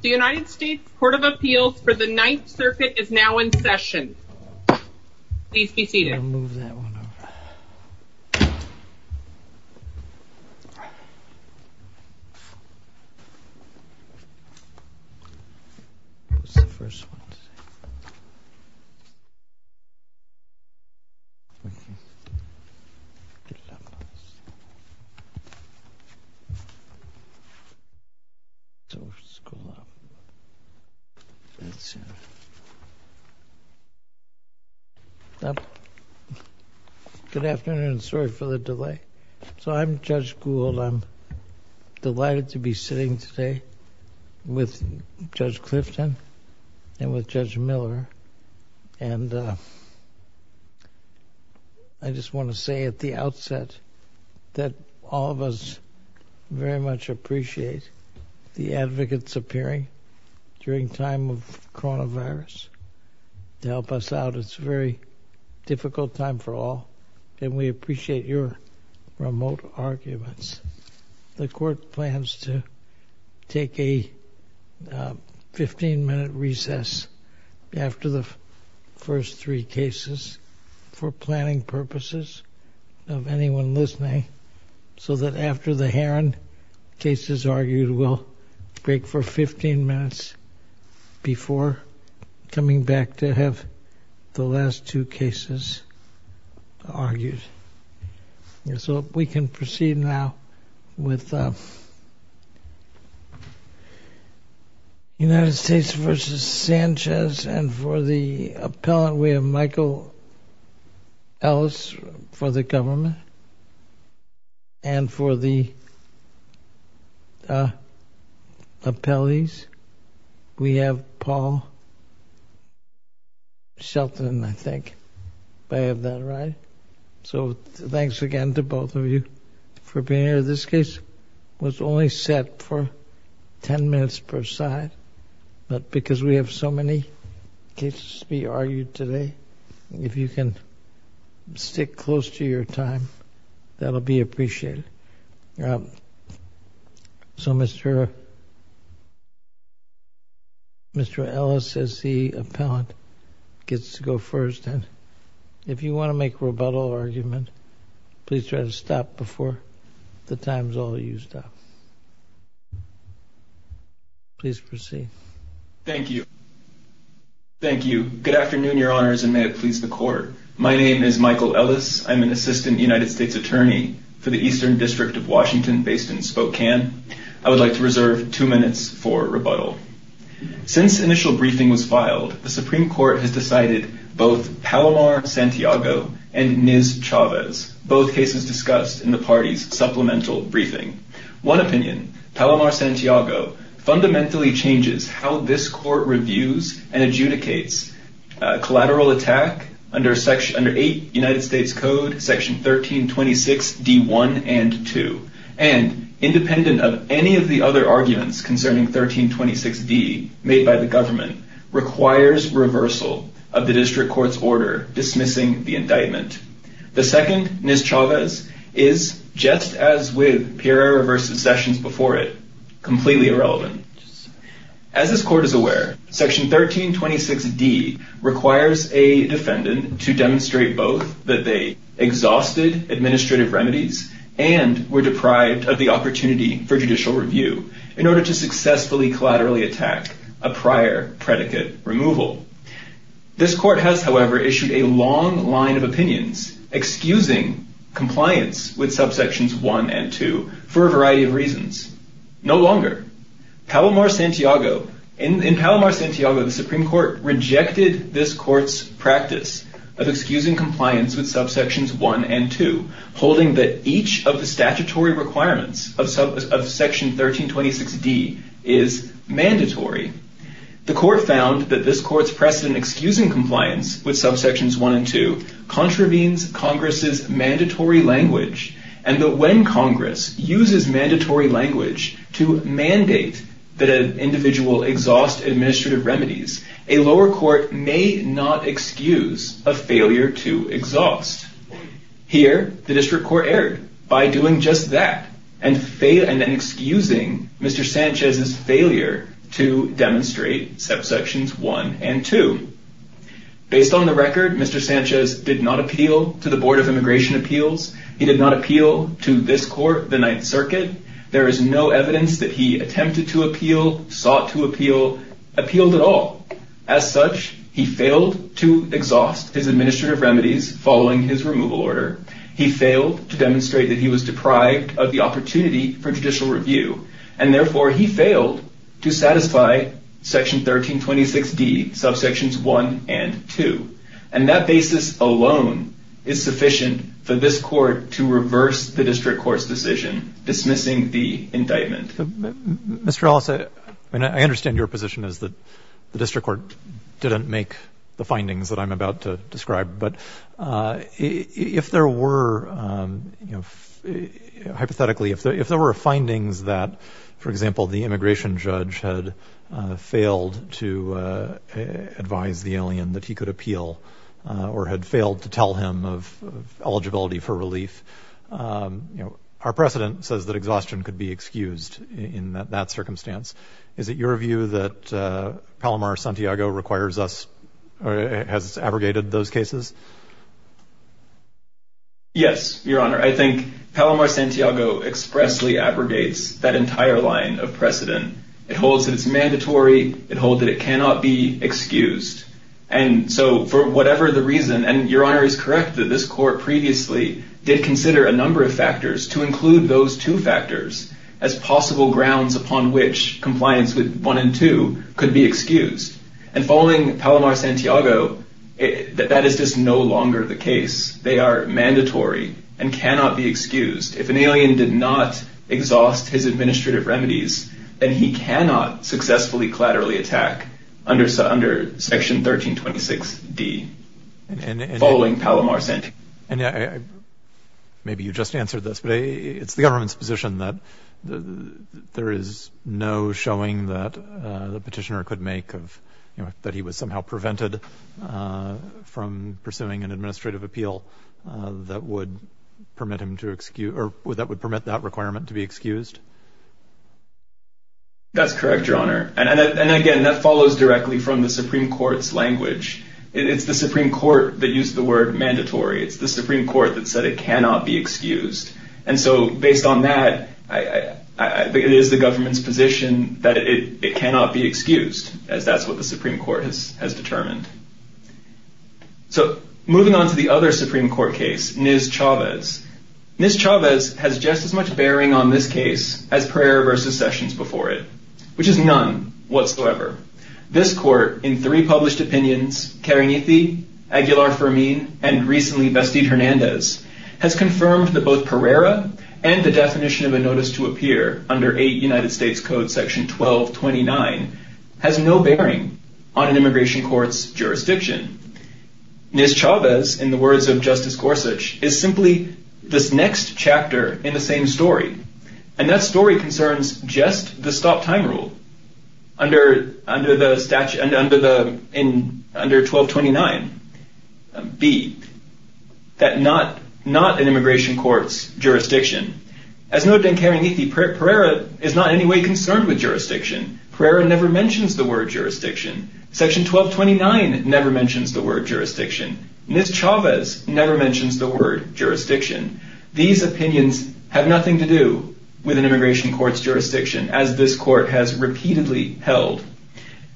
The United States Court of Appeals for the Ninth Circuit is now in session. Please be seated. Good afternoon. Sorry for the delay. So I'm Judge Gould. I'm delighted to be sitting today with Judge Clifton and with Judge Miller. And I just want to say at the outset that all of us very much appreciate the advocates appearing during time of coronavirus to help us out. It's a very difficult time for all, and we appreciate your remote arguments. The Court plans to take a 15-minute recess after the first three cases for planning purposes of anyone listening, so that after the Heron case is argued, we'll break for 15 minutes before coming back to have the last two cases argued. So if we can proceed now with United States v. Sanchez. And for the appellant, we have Michael Ellis for the government. And for the appellees, we have Paul Shelton, I think. Do I have that right? So thanks again to both of you for being here. This case was only set for 10 minutes per side, but because we have so many cases to be argued today, if you can stick close to your time, that will be appreciated. So Mr. Ellis, as the appellant, gets to go first. And if you want to make a rebuttal or argument, please try to stop before the time is all used up. Please proceed. Thank you. Thank you. Good afternoon, Your Honors, and may it please the Court. My name is Michael Ellis. I'm an assistant United States attorney for the Eastern District of Washington based in Spokane. I would like to reserve two minutes for rebuttal. Since initial briefing was filed, the Supreme Court has decided both Palomar-Santiago and Niz-Chavez, both cases discussed in the party's supplemental briefing. One opinion, Palomar-Santiago, fundamentally changes how this court reviews and adjudicates collateral attack under 8 United States Code Section 1326D1 and 2, and independent of any of the other arguments concerning 1326D made by the government, requires reversal of the district court's order dismissing the indictment. The second, Niz-Chavez, is, just as with Piero versus Sessions before it, completely irrelevant. As this court is aware, Section 1326D requires a defendant to demonstrate both that they exhausted administrative remedies and were deprived of the opportunity for judicial review in order to successfully collaterally attack a prior predicate removal. This court has, however, issued a long line of opinions excusing compliance with subsections 1 and 2 for a variety of reasons. No longer. In Palomar-Santiago, the Supreme Court rejected this court's practice of excusing compliance with subsections 1 and 2, holding that each of the statutory requirements of Section 1326D is mandatory. The court found that this court's precedent excusing compliance with subsections 1 and 2 contravenes Congress's mandatory language, and that when Congress uses mandatory language to mandate that an individual exhaust administrative remedies, a lower court may not excuse a failure to exhaust. Here, the district court erred by doing just that, and then excusing Mr. Sanchez's failure to demonstrate subsections 1 and 2. Based on the record, Mr. Sanchez did not appeal to the Board of Immigration Appeals. He did not appeal to this court, the Ninth Circuit. There is no evidence that he attempted to appeal, sought to appeal, appealed at all. As such, he failed to exhaust his administrative remedies following his removal order. He failed to demonstrate that he was deprived of the opportunity for judicial review, and therefore he failed to satisfy Section 1326D, subsections 1 and 2. And that basis alone is sufficient for this court to reverse the district court's decision dismissing the indictment. Mr. Ellis, I understand your position is that the district court didn't make the findings that I'm about to describe, but if there were, hypothetically, if there were findings that, for example, the immigration judge had failed to advise the alien that he could appeal or had failed to tell him of eligibility for relief, our precedent says that exhaustion could be excused in that circumstance. Is it your view that Palomar-Santiago requires us or has abrogated those cases? Yes, Your Honor. I think Palomar-Santiago expressly abrogates that entire line of precedent. It holds that it's mandatory. It holds that it cannot be excused. And so for whatever the reason, and Your Honor is correct that this court previously did consider a number of factors to include those two factors as possible grounds upon which compliance with 1 and 2 could be excused. And following Palomar-Santiago, that is just no longer the case. They are mandatory and cannot be excused. If an alien did not exhaust his administrative remedies, then he cannot successfully collaterally attack under Section 1326D following Palomar-Santiago. Maybe you just answered this, but it's the government's position that there is no showing that the petitioner could make that he was somehow prevented from pursuing an administrative appeal that would permit him to excuse or that would permit that requirement to be excused? That's correct, Your Honor. And again, that follows directly from the Supreme Court's language. It's the Supreme Court that used the word mandatory. It's the Supreme Court that said it cannot be excused. And so based on that, it is the government's position that it cannot be excused, as that's what the Supreme Court has determined. So moving on to the other Supreme Court case, Nis-Chavez. Nis-Chavez has just as much bearing on this case as Pereira v. Sessions before it, which is none whatsoever. This court, in three published opinions, Karenithi, Aguilar-Fermin, and recently Vestid-Hernandez, has confirmed that both Pereira and the definition of a notice to appear under 8 United States Code Section 1229 has no bearing on an immigration court's jurisdiction. Nis-Chavez, in the words of Justice Gorsuch, is simply this next chapter in the same story. And that story concerns just the stop-time rule. Under 1229b, that not an immigration court's jurisdiction. As noted in Karenithi, Pereira is not in any way concerned with jurisdiction. Pereira never mentions the word jurisdiction. Section 1229 never mentions the word jurisdiction. Nis-Chavez never mentions the word jurisdiction. These opinions have nothing to do with an immigration court's jurisdiction, as this court has repeatedly held.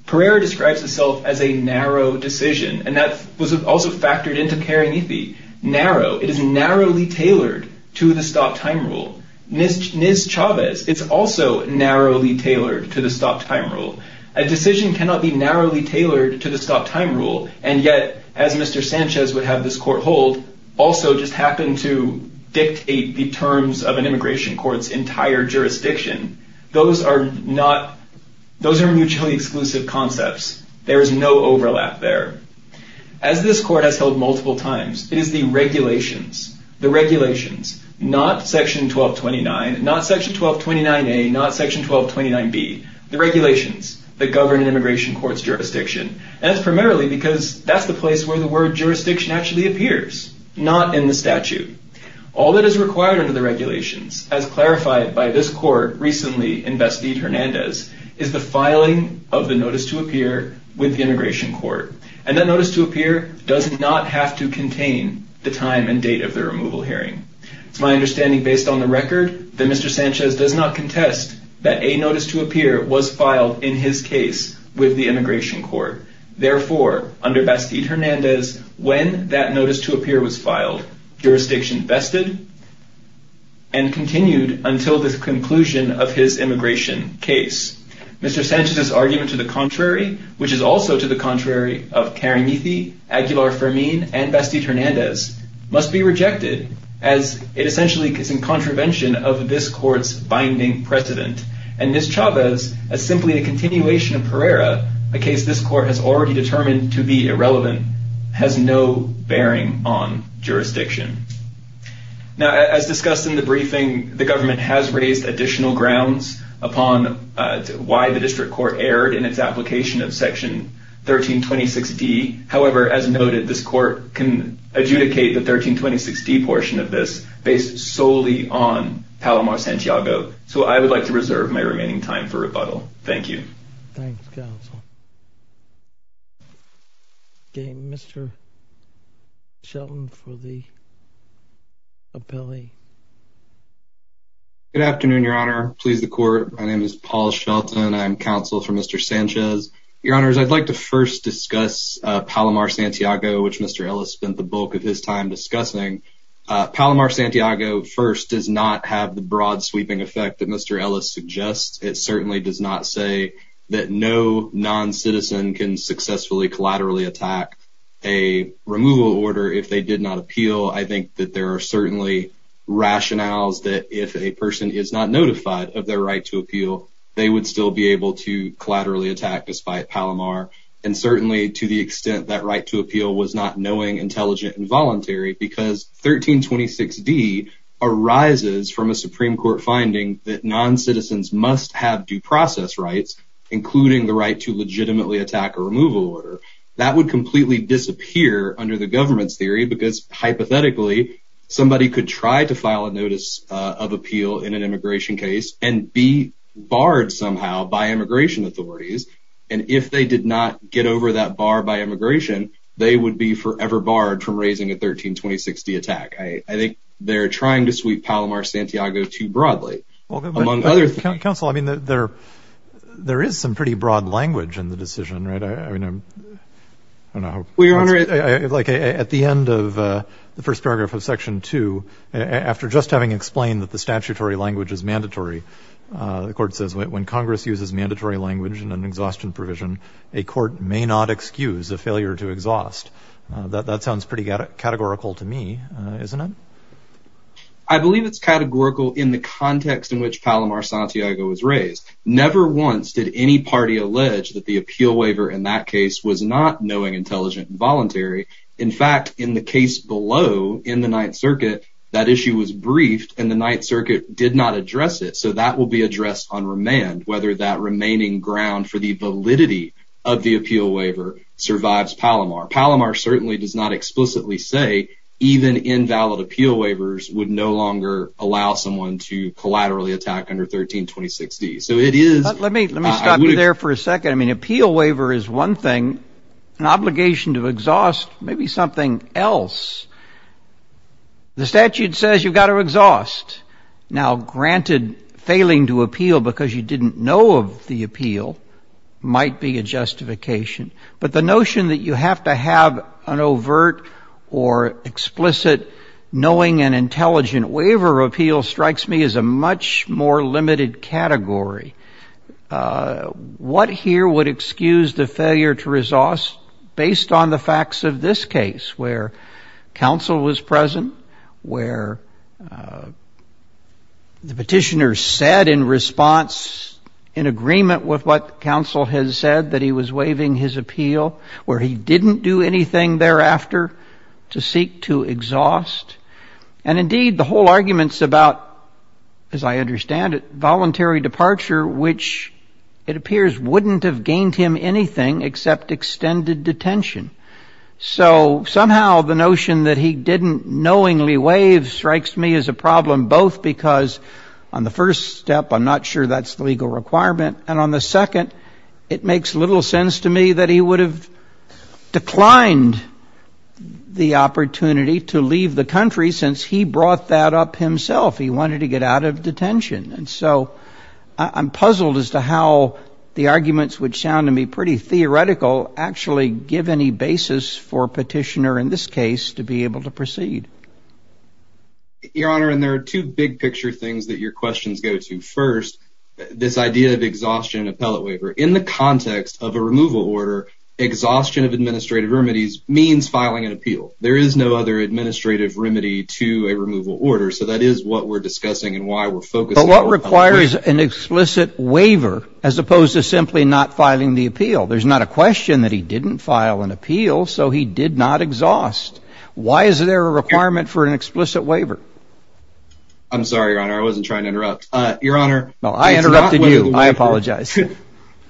Pereira describes itself as a narrow decision, and that was also factored into Karenithi. Narrow. It is narrowly tailored to the stop-time rule. Nis-Chavez, it's also narrowly tailored to the stop-time rule. A decision cannot be narrowly tailored to the stop-time rule, and yet, as Mr. Sanchez would have this court hold, also just happen to dictate the terms of an immigration court's entire jurisdiction, those are mutually exclusive concepts. There is no overlap there. As this court has held multiple times, it is the regulations, the regulations, not section 1229, not section 1229a, not section 1229b, the regulations that govern an immigration court's jurisdiction. And that's primarily because that's the place where the word jurisdiction actually appears, not in the statute. All that is required under the regulations, as clarified by this court recently in Besteed-Hernandez, is the filing of the notice to appear with the immigration court. And that notice to appear does not have to contain the time and date of the removal hearing. It's my understanding, based on the record, that Mr. Sanchez does not contest that a notice to appear was filed, in his case, with the immigration court. Therefore, under Besteed-Hernandez, when that notice to appear was filed, jurisdiction vested and continued until the conclusion of his immigration case. Mr. Sanchez's argument to the contrary, which is also to the contrary of Caramithi, Aguilar-Fermin, and Besteed-Hernandez, must be rejected, as it essentially is in contravention of this court's binding precedent. And Ms. Chavez, as simply a continuation of Pereira, a case this court has already determined to be irrelevant, has no bearing on jurisdiction. Now, as discussed in the briefing, the government has raised additional grounds upon why the district court erred in its application of Section 1326D. However, as noted, this court can adjudicate the 1326D portion of this based solely on Palomar-Santiago. So I would like to reserve my remaining time for rebuttal. Thank you. Thanks, counsel. Okay, Mr. Shelton for the appellee. Good afternoon, Your Honor. Please the court. My name is Paul Shelton. I'm counsel for Mr. Sanchez. Your Honors, I'd like to first discuss Palomar-Santiago, which Mr. Ellis spent the bulk of his time discussing. Palomar-Santiago, first, does not have the broad sweeping effect that Mr. Ellis suggests. It certainly does not say that no non-citizen can successfully collaterally attack a removal order if they did not appeal. I think that there are certainly rationales that if a person is not notified of their right to appeal, they would still be able to collaterally attack despite Palomar. And certainly to the extent that right to appeal was not knowing, intelligent, and voluntary because 1326D arises from a Supreme Court finding that non-citizens must have due process rights, including the right to legitimately attack a removal order. That would completely disappear under the government's theory because hypothetically, somebody could try to file a notice of appeal in an immigration case and be barred somehow by immigration authorities. And if they did not get over that bar by immigration, they would be forever barred from raising a 1326D attack. I think they're trying to sweep Palomar-Santiago too broadly, among other things. Counsel, I mean, there is some pretty broad language in the decision, right? I don't know. Your Honor, at the end of the first paragraph of Section 2, after just having explained that the statutory language is mandatory, the Court says, when Congress uses mandatory language in an exhaustion provision, a court may not excuse a failure to exhaust. That sounds pretty categorical to me, isn't it? I believe it's categorical in the context in which Palomar-Santiago was raised. Never once did any party allege that the appeal waiver in that case was not knowing, intelligent, and voluntary. In fact, in the case below, in the Ninth Circuit, that issue was briefed, and the Ninth Circuit did not address it. So that will be addressed on remand, whether that remaining ground for the validity of the appeal waiver survives Palomar. Palomar certainly does not explicitly say even invalid appeal waivers would no longer allow someone to collaterally attack under 1326D. Let me stop you there for a second. I mean, appeal waiver is one thing. An obligation to exhaust may be something else. The statute says you've got to exhaust. Now, granted, failing to appeal because you didn't know of the appeal might be a justification. But the notion that you have to have an overt or explicit knowing and intelligent waiver appeal strikes me as a much more limited category. What here would excuse the failure to exhaust based on the facts of this case, where counsel was present, where the petitioner said in response in agreement with what counsel has said that he was waiving his appeal, where he didn't do anything thereafter to seek to exhaust? And indeed, the whole argument's about, as I understand it, voluntary departure, which it appears wouldn't have gained him anything except extended detention. So somehow the notion that he didn't knowingly waive strikes me as a problem, both because on the first step I'm not sure that's the legal requirement, and on the second it makes little sense to me that he would have declined the opportunity to leave the country since he brought that up himself. And so I'm puzzled as to how the arguments, which sound to me pretty theoretical, actually give any basis for petitioner in this case to be able to proceed. Your Honor, and there are two big picture things that your questions go to. First, this idea of exhaustion appellate waiver in the context of a removal order. Exhaustion of administrative remedies means filing an appeal. There is no other administrative remedy to a removal order. So that is what we're discussing and why we're focused. But what requires an explicit waiver as opposed to simply not filing the appeal? There's not a question that he didn't file an appeal, so he did not exhaust. Why is there a requirement for an explicit waiver? I'm sorry, Your Honor, I wasn't trying to interrupt. Your Honor, I interrupted you. I apologize.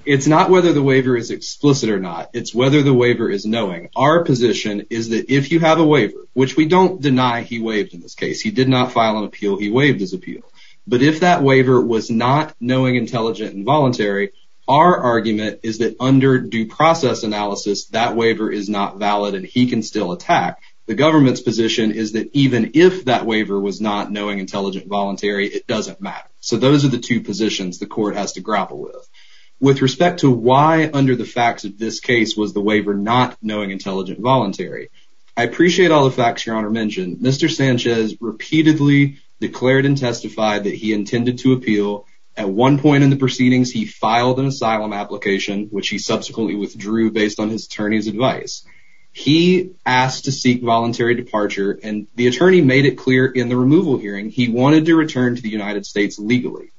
It's not whether the waiver is explicit or not. It's whether the waiver is knowing. Our position is that if you have a waiver, which we don't deny he waived in this case, he did not file an appeal, he waived his appeal. But if that waiver was not knowing, intelligent, and voluntary, our argument is that under due process analysis, that waiver is not valid and he can still attack. The government's position is that even if that waiver was not knowing, intelligent, and voluntary, it doesn't matter. So those are the two positions the court has to grapple with. With respect to why under the facts of this case was the waiver not knowing, intelligent, and voluntary, I appreciate all the facts Your Honor mentioned. Mr. Sanchez repeatedly declared and testified that he intended to appeal. At one point in the proceedings, he filed an asylum application, which he subsequently withdrew based on his attorney's advice. He asked to seek voluntary departure, and the attorney made it clear in the removal hearing he wanted to return to the United States legally.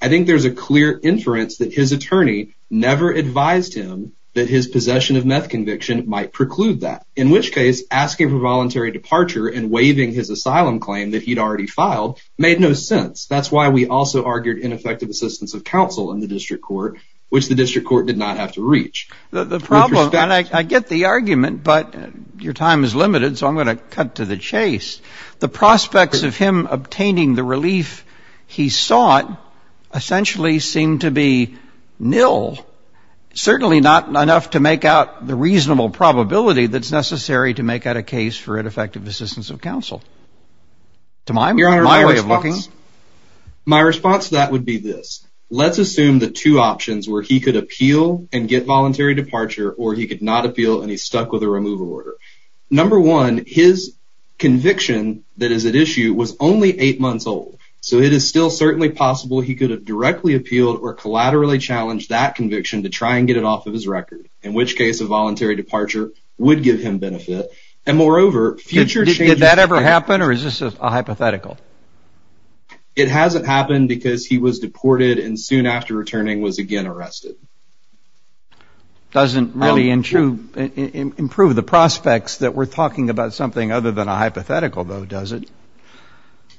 I think there's a clear inference that his attorney never advised him that his possession of meth conviction might preclude that, in which case asking for voluntary departure and waiving his asylum claim that he'd already filed made no sense. That's why we also argued ineffective assistance of counsel in the district court, which the district court did not have to reach. The problem, and I get the argument, but your time is limited, so I'm going to cut to the chase. The prospects of him obtaining the relief he sought essentially seem to be nil, certainly not enough to make out the reasonable probability that's necessary to make out a case for ineffective assistance of counsel. Your Honor, my response to that would be this. Let's assume the two options were he could appeal and get voluntary departure, or he could not appeal and he's stuck with a removal order. Number one, his conviction that is at issue was only eight months old, so it is still certainly possible he could have directly appealed or collaterally challenged that conviction to try and get it off of his record, in which case a voluntary departure would give him benefit, and moreover, future changes... Did that ever happen, or is this a hypothetical? It hasn't happened because he was deported and soon after returning was again arrested. Doesn't really improve the prospects that we're talking about something other than a hypothetical, though, does it?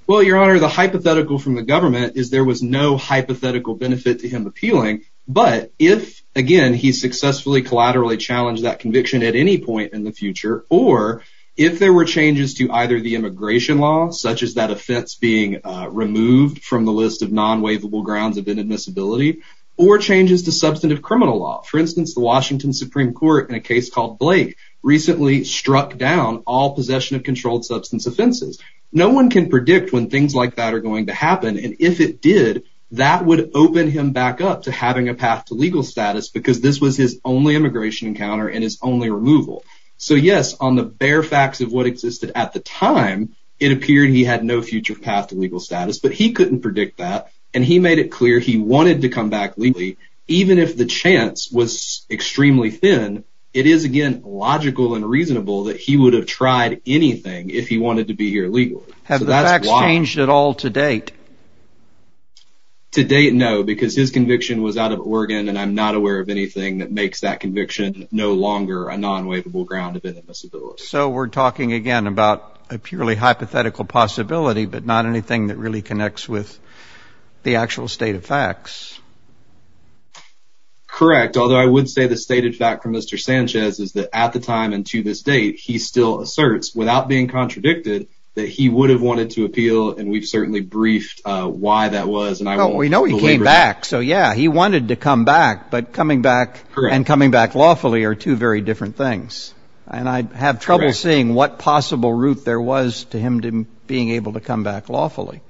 Well, Your Honor, the hypothetical from the government is there was no hypothetical benefit to him appealing, but if, again, he successfully collaterally challenged that conviction at any point in the future, or if there were changes to either the immigration law, such as that offense being removed from the list of non-waivable grounds of inadmissibility, or changes to substantive criminal law. For instance, the Washington Supreme Court in a case called Blake recently struck down all possession of controlled substance offenses. No one can predict when things like that are going to happen, and if it did, that would open him back up to having a path to legal status because this was his only immigration encounter and his only removal. So, yes, on the bare facts of what existed at the time, it appeared he had no future path to legal status, but he couldn't predict that, and he made it clear he wanted to come back legally, even if the chance was extremely thin, it is, again, logical and reasonable that he would have tried anything if he wanted to be here legally. Have the facts changed at all to date? To date, no, because his conviction was out of Oregon, and I'm not aware of anything that makes that conviction no longer a non-waivable ground of inadmissibility. So we're talking, again, about a purely hypothetical possibility, but not anything that really connects with the actual state of facts. Correct, although I would say the stated fact from Mr. Sanchez is that at the time and to this date, he still asserts, without being contradicted, that he would have wanted to appeal, and we've certainly briefed why that was, and I won't belabor that. Well, we know he came back, so, yeah, he wanted to come back, but coming back and coming back lawfully are two very different things, and I have trouble seeing what possible route there was to him being able to come back lawfully,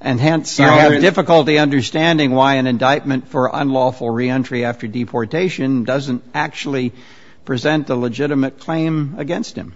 and hence I have difficulty understanding why an indictment for unlawful reentry after deportation doesn't actually present a legitimate claim against him.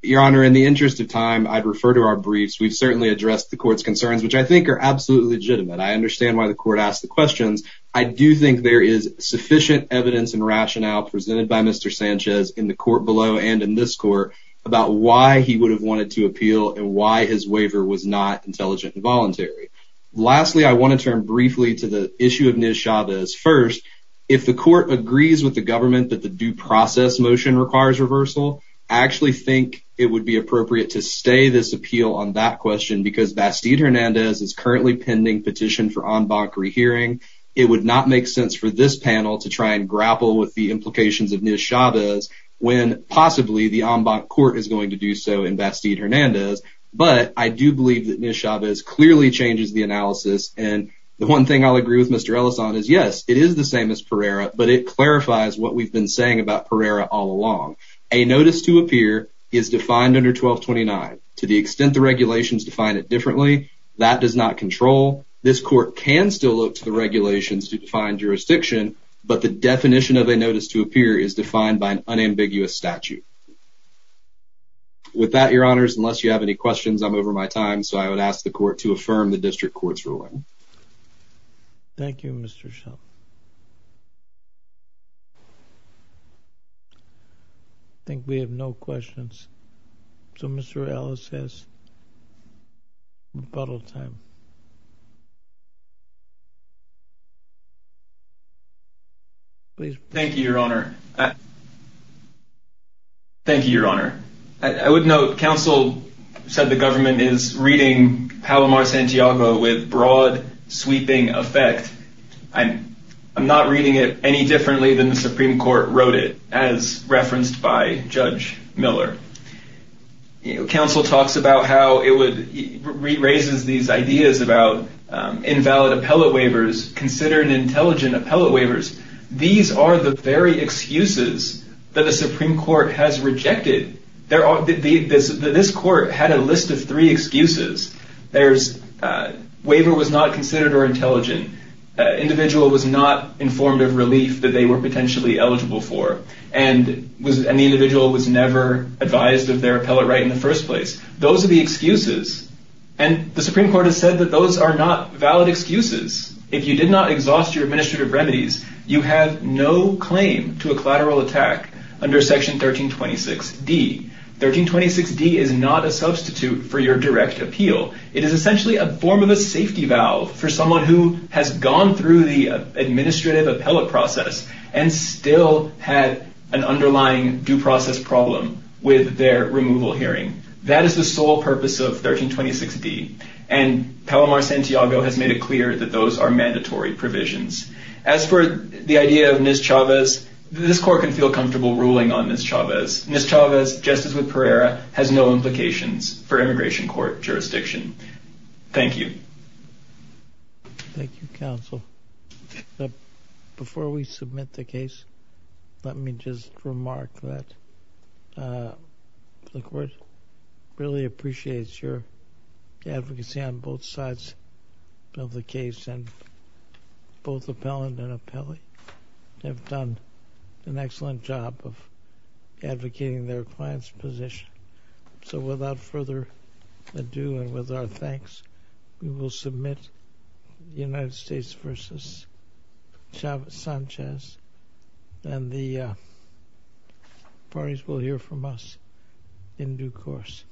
Your Honor, in the interest of time, I'd refer to our briefs. We've certainly addressed the Court's concerns, which I think are absolutely legitimate. I understand why the Court asked the questions. I do think there is sufficient evidence and rationale presented by Mr. Sanchez in the Court below and in this Court about why he would have wanted to appeal and why his waiver was not intelligent and voluntary. Lastly, I want to turn briefly to the issue of Ms. Chavez. First, if the Court agrees with the government that the due process motion requires reversal, I actually think it would be appropriate to stay this appeal on that question because Bastide-Hernandez is currently pending petition for en banc rehearing. It would not make sense for this panel to try and grapple with the implications of Ms. Chavez when possibly the en banc Court is going to do so in Bastide-Hernandez, but I do believe that Ms. Chavez clearly changes the analysis, and the one thing I'll agree with Mr. Ellison is, yes, it is the same as Pereira, but it clarifies what we've been saying about Pereira all along. A notice to appear is defined under 1229. To the extent the regulations define it differently, that does not control. This Court can still look to the regulations to define jurisdiction, but the definition of a notice to appear is defined by an unambiguous statute. With that, Your Honors, unless you have any questions, I'm over my time, so I would ask the Court to affirm the District Court's ruling. Thank you, Mr. Schultz. I think we have no questions, so Mr. Ellis has rebuttal time. Thank you, Your Honor. Thank you, Your Honor. I would note counsel said the government is reading Palomar-Santiago with broad, sweeping effect. I'm not reading it any differently than the Supreme Court wrote it, as referenced by Judge Miller. Counsel talks about how it raises these ideas about invalid appellate waivers, considered intelligent appellate waivers. These are the very excuses that the Supreme Court has rejected. This Court had a list of three excuses. Waiver was not considered or intelligent. Individual was not informed of relief that they were potentially eligible for. And the individual was never advised of their appellate right in the first place. Those are the excuses. And the Supreme Court has said that those are not valid excuses. If you did not exhaust your administrative remedies, you have no claim to a collateral attack under Section 1326D. 1326D is not a substitute for your direct appeal. It is essentially a form of a safety valve for someone who has gone through the administrative appellate process and still had an underlying due process problem with their removal hearing. That is the sole purpose of 1326D. And Palomar Santiago has made it clear that those are mandatory provisions. As for the idea of Ms. Chavez, this Court can feel comfortable ruling on Ms. Chavez. Ms. Chavez, just as with Pereira, has no implications for immigration court jurisdiction. Thank you. Thank you, Counsel. Before we submit the case, let me just remark that the Court really appreciates your advocacy on both sides of the case. And both appellant and appellee have done an excellent job of advocating their client's position. So without further ado and with our thanks, we will submit United States v. Chavez-Sanchez. And the parties will hear from us in due course.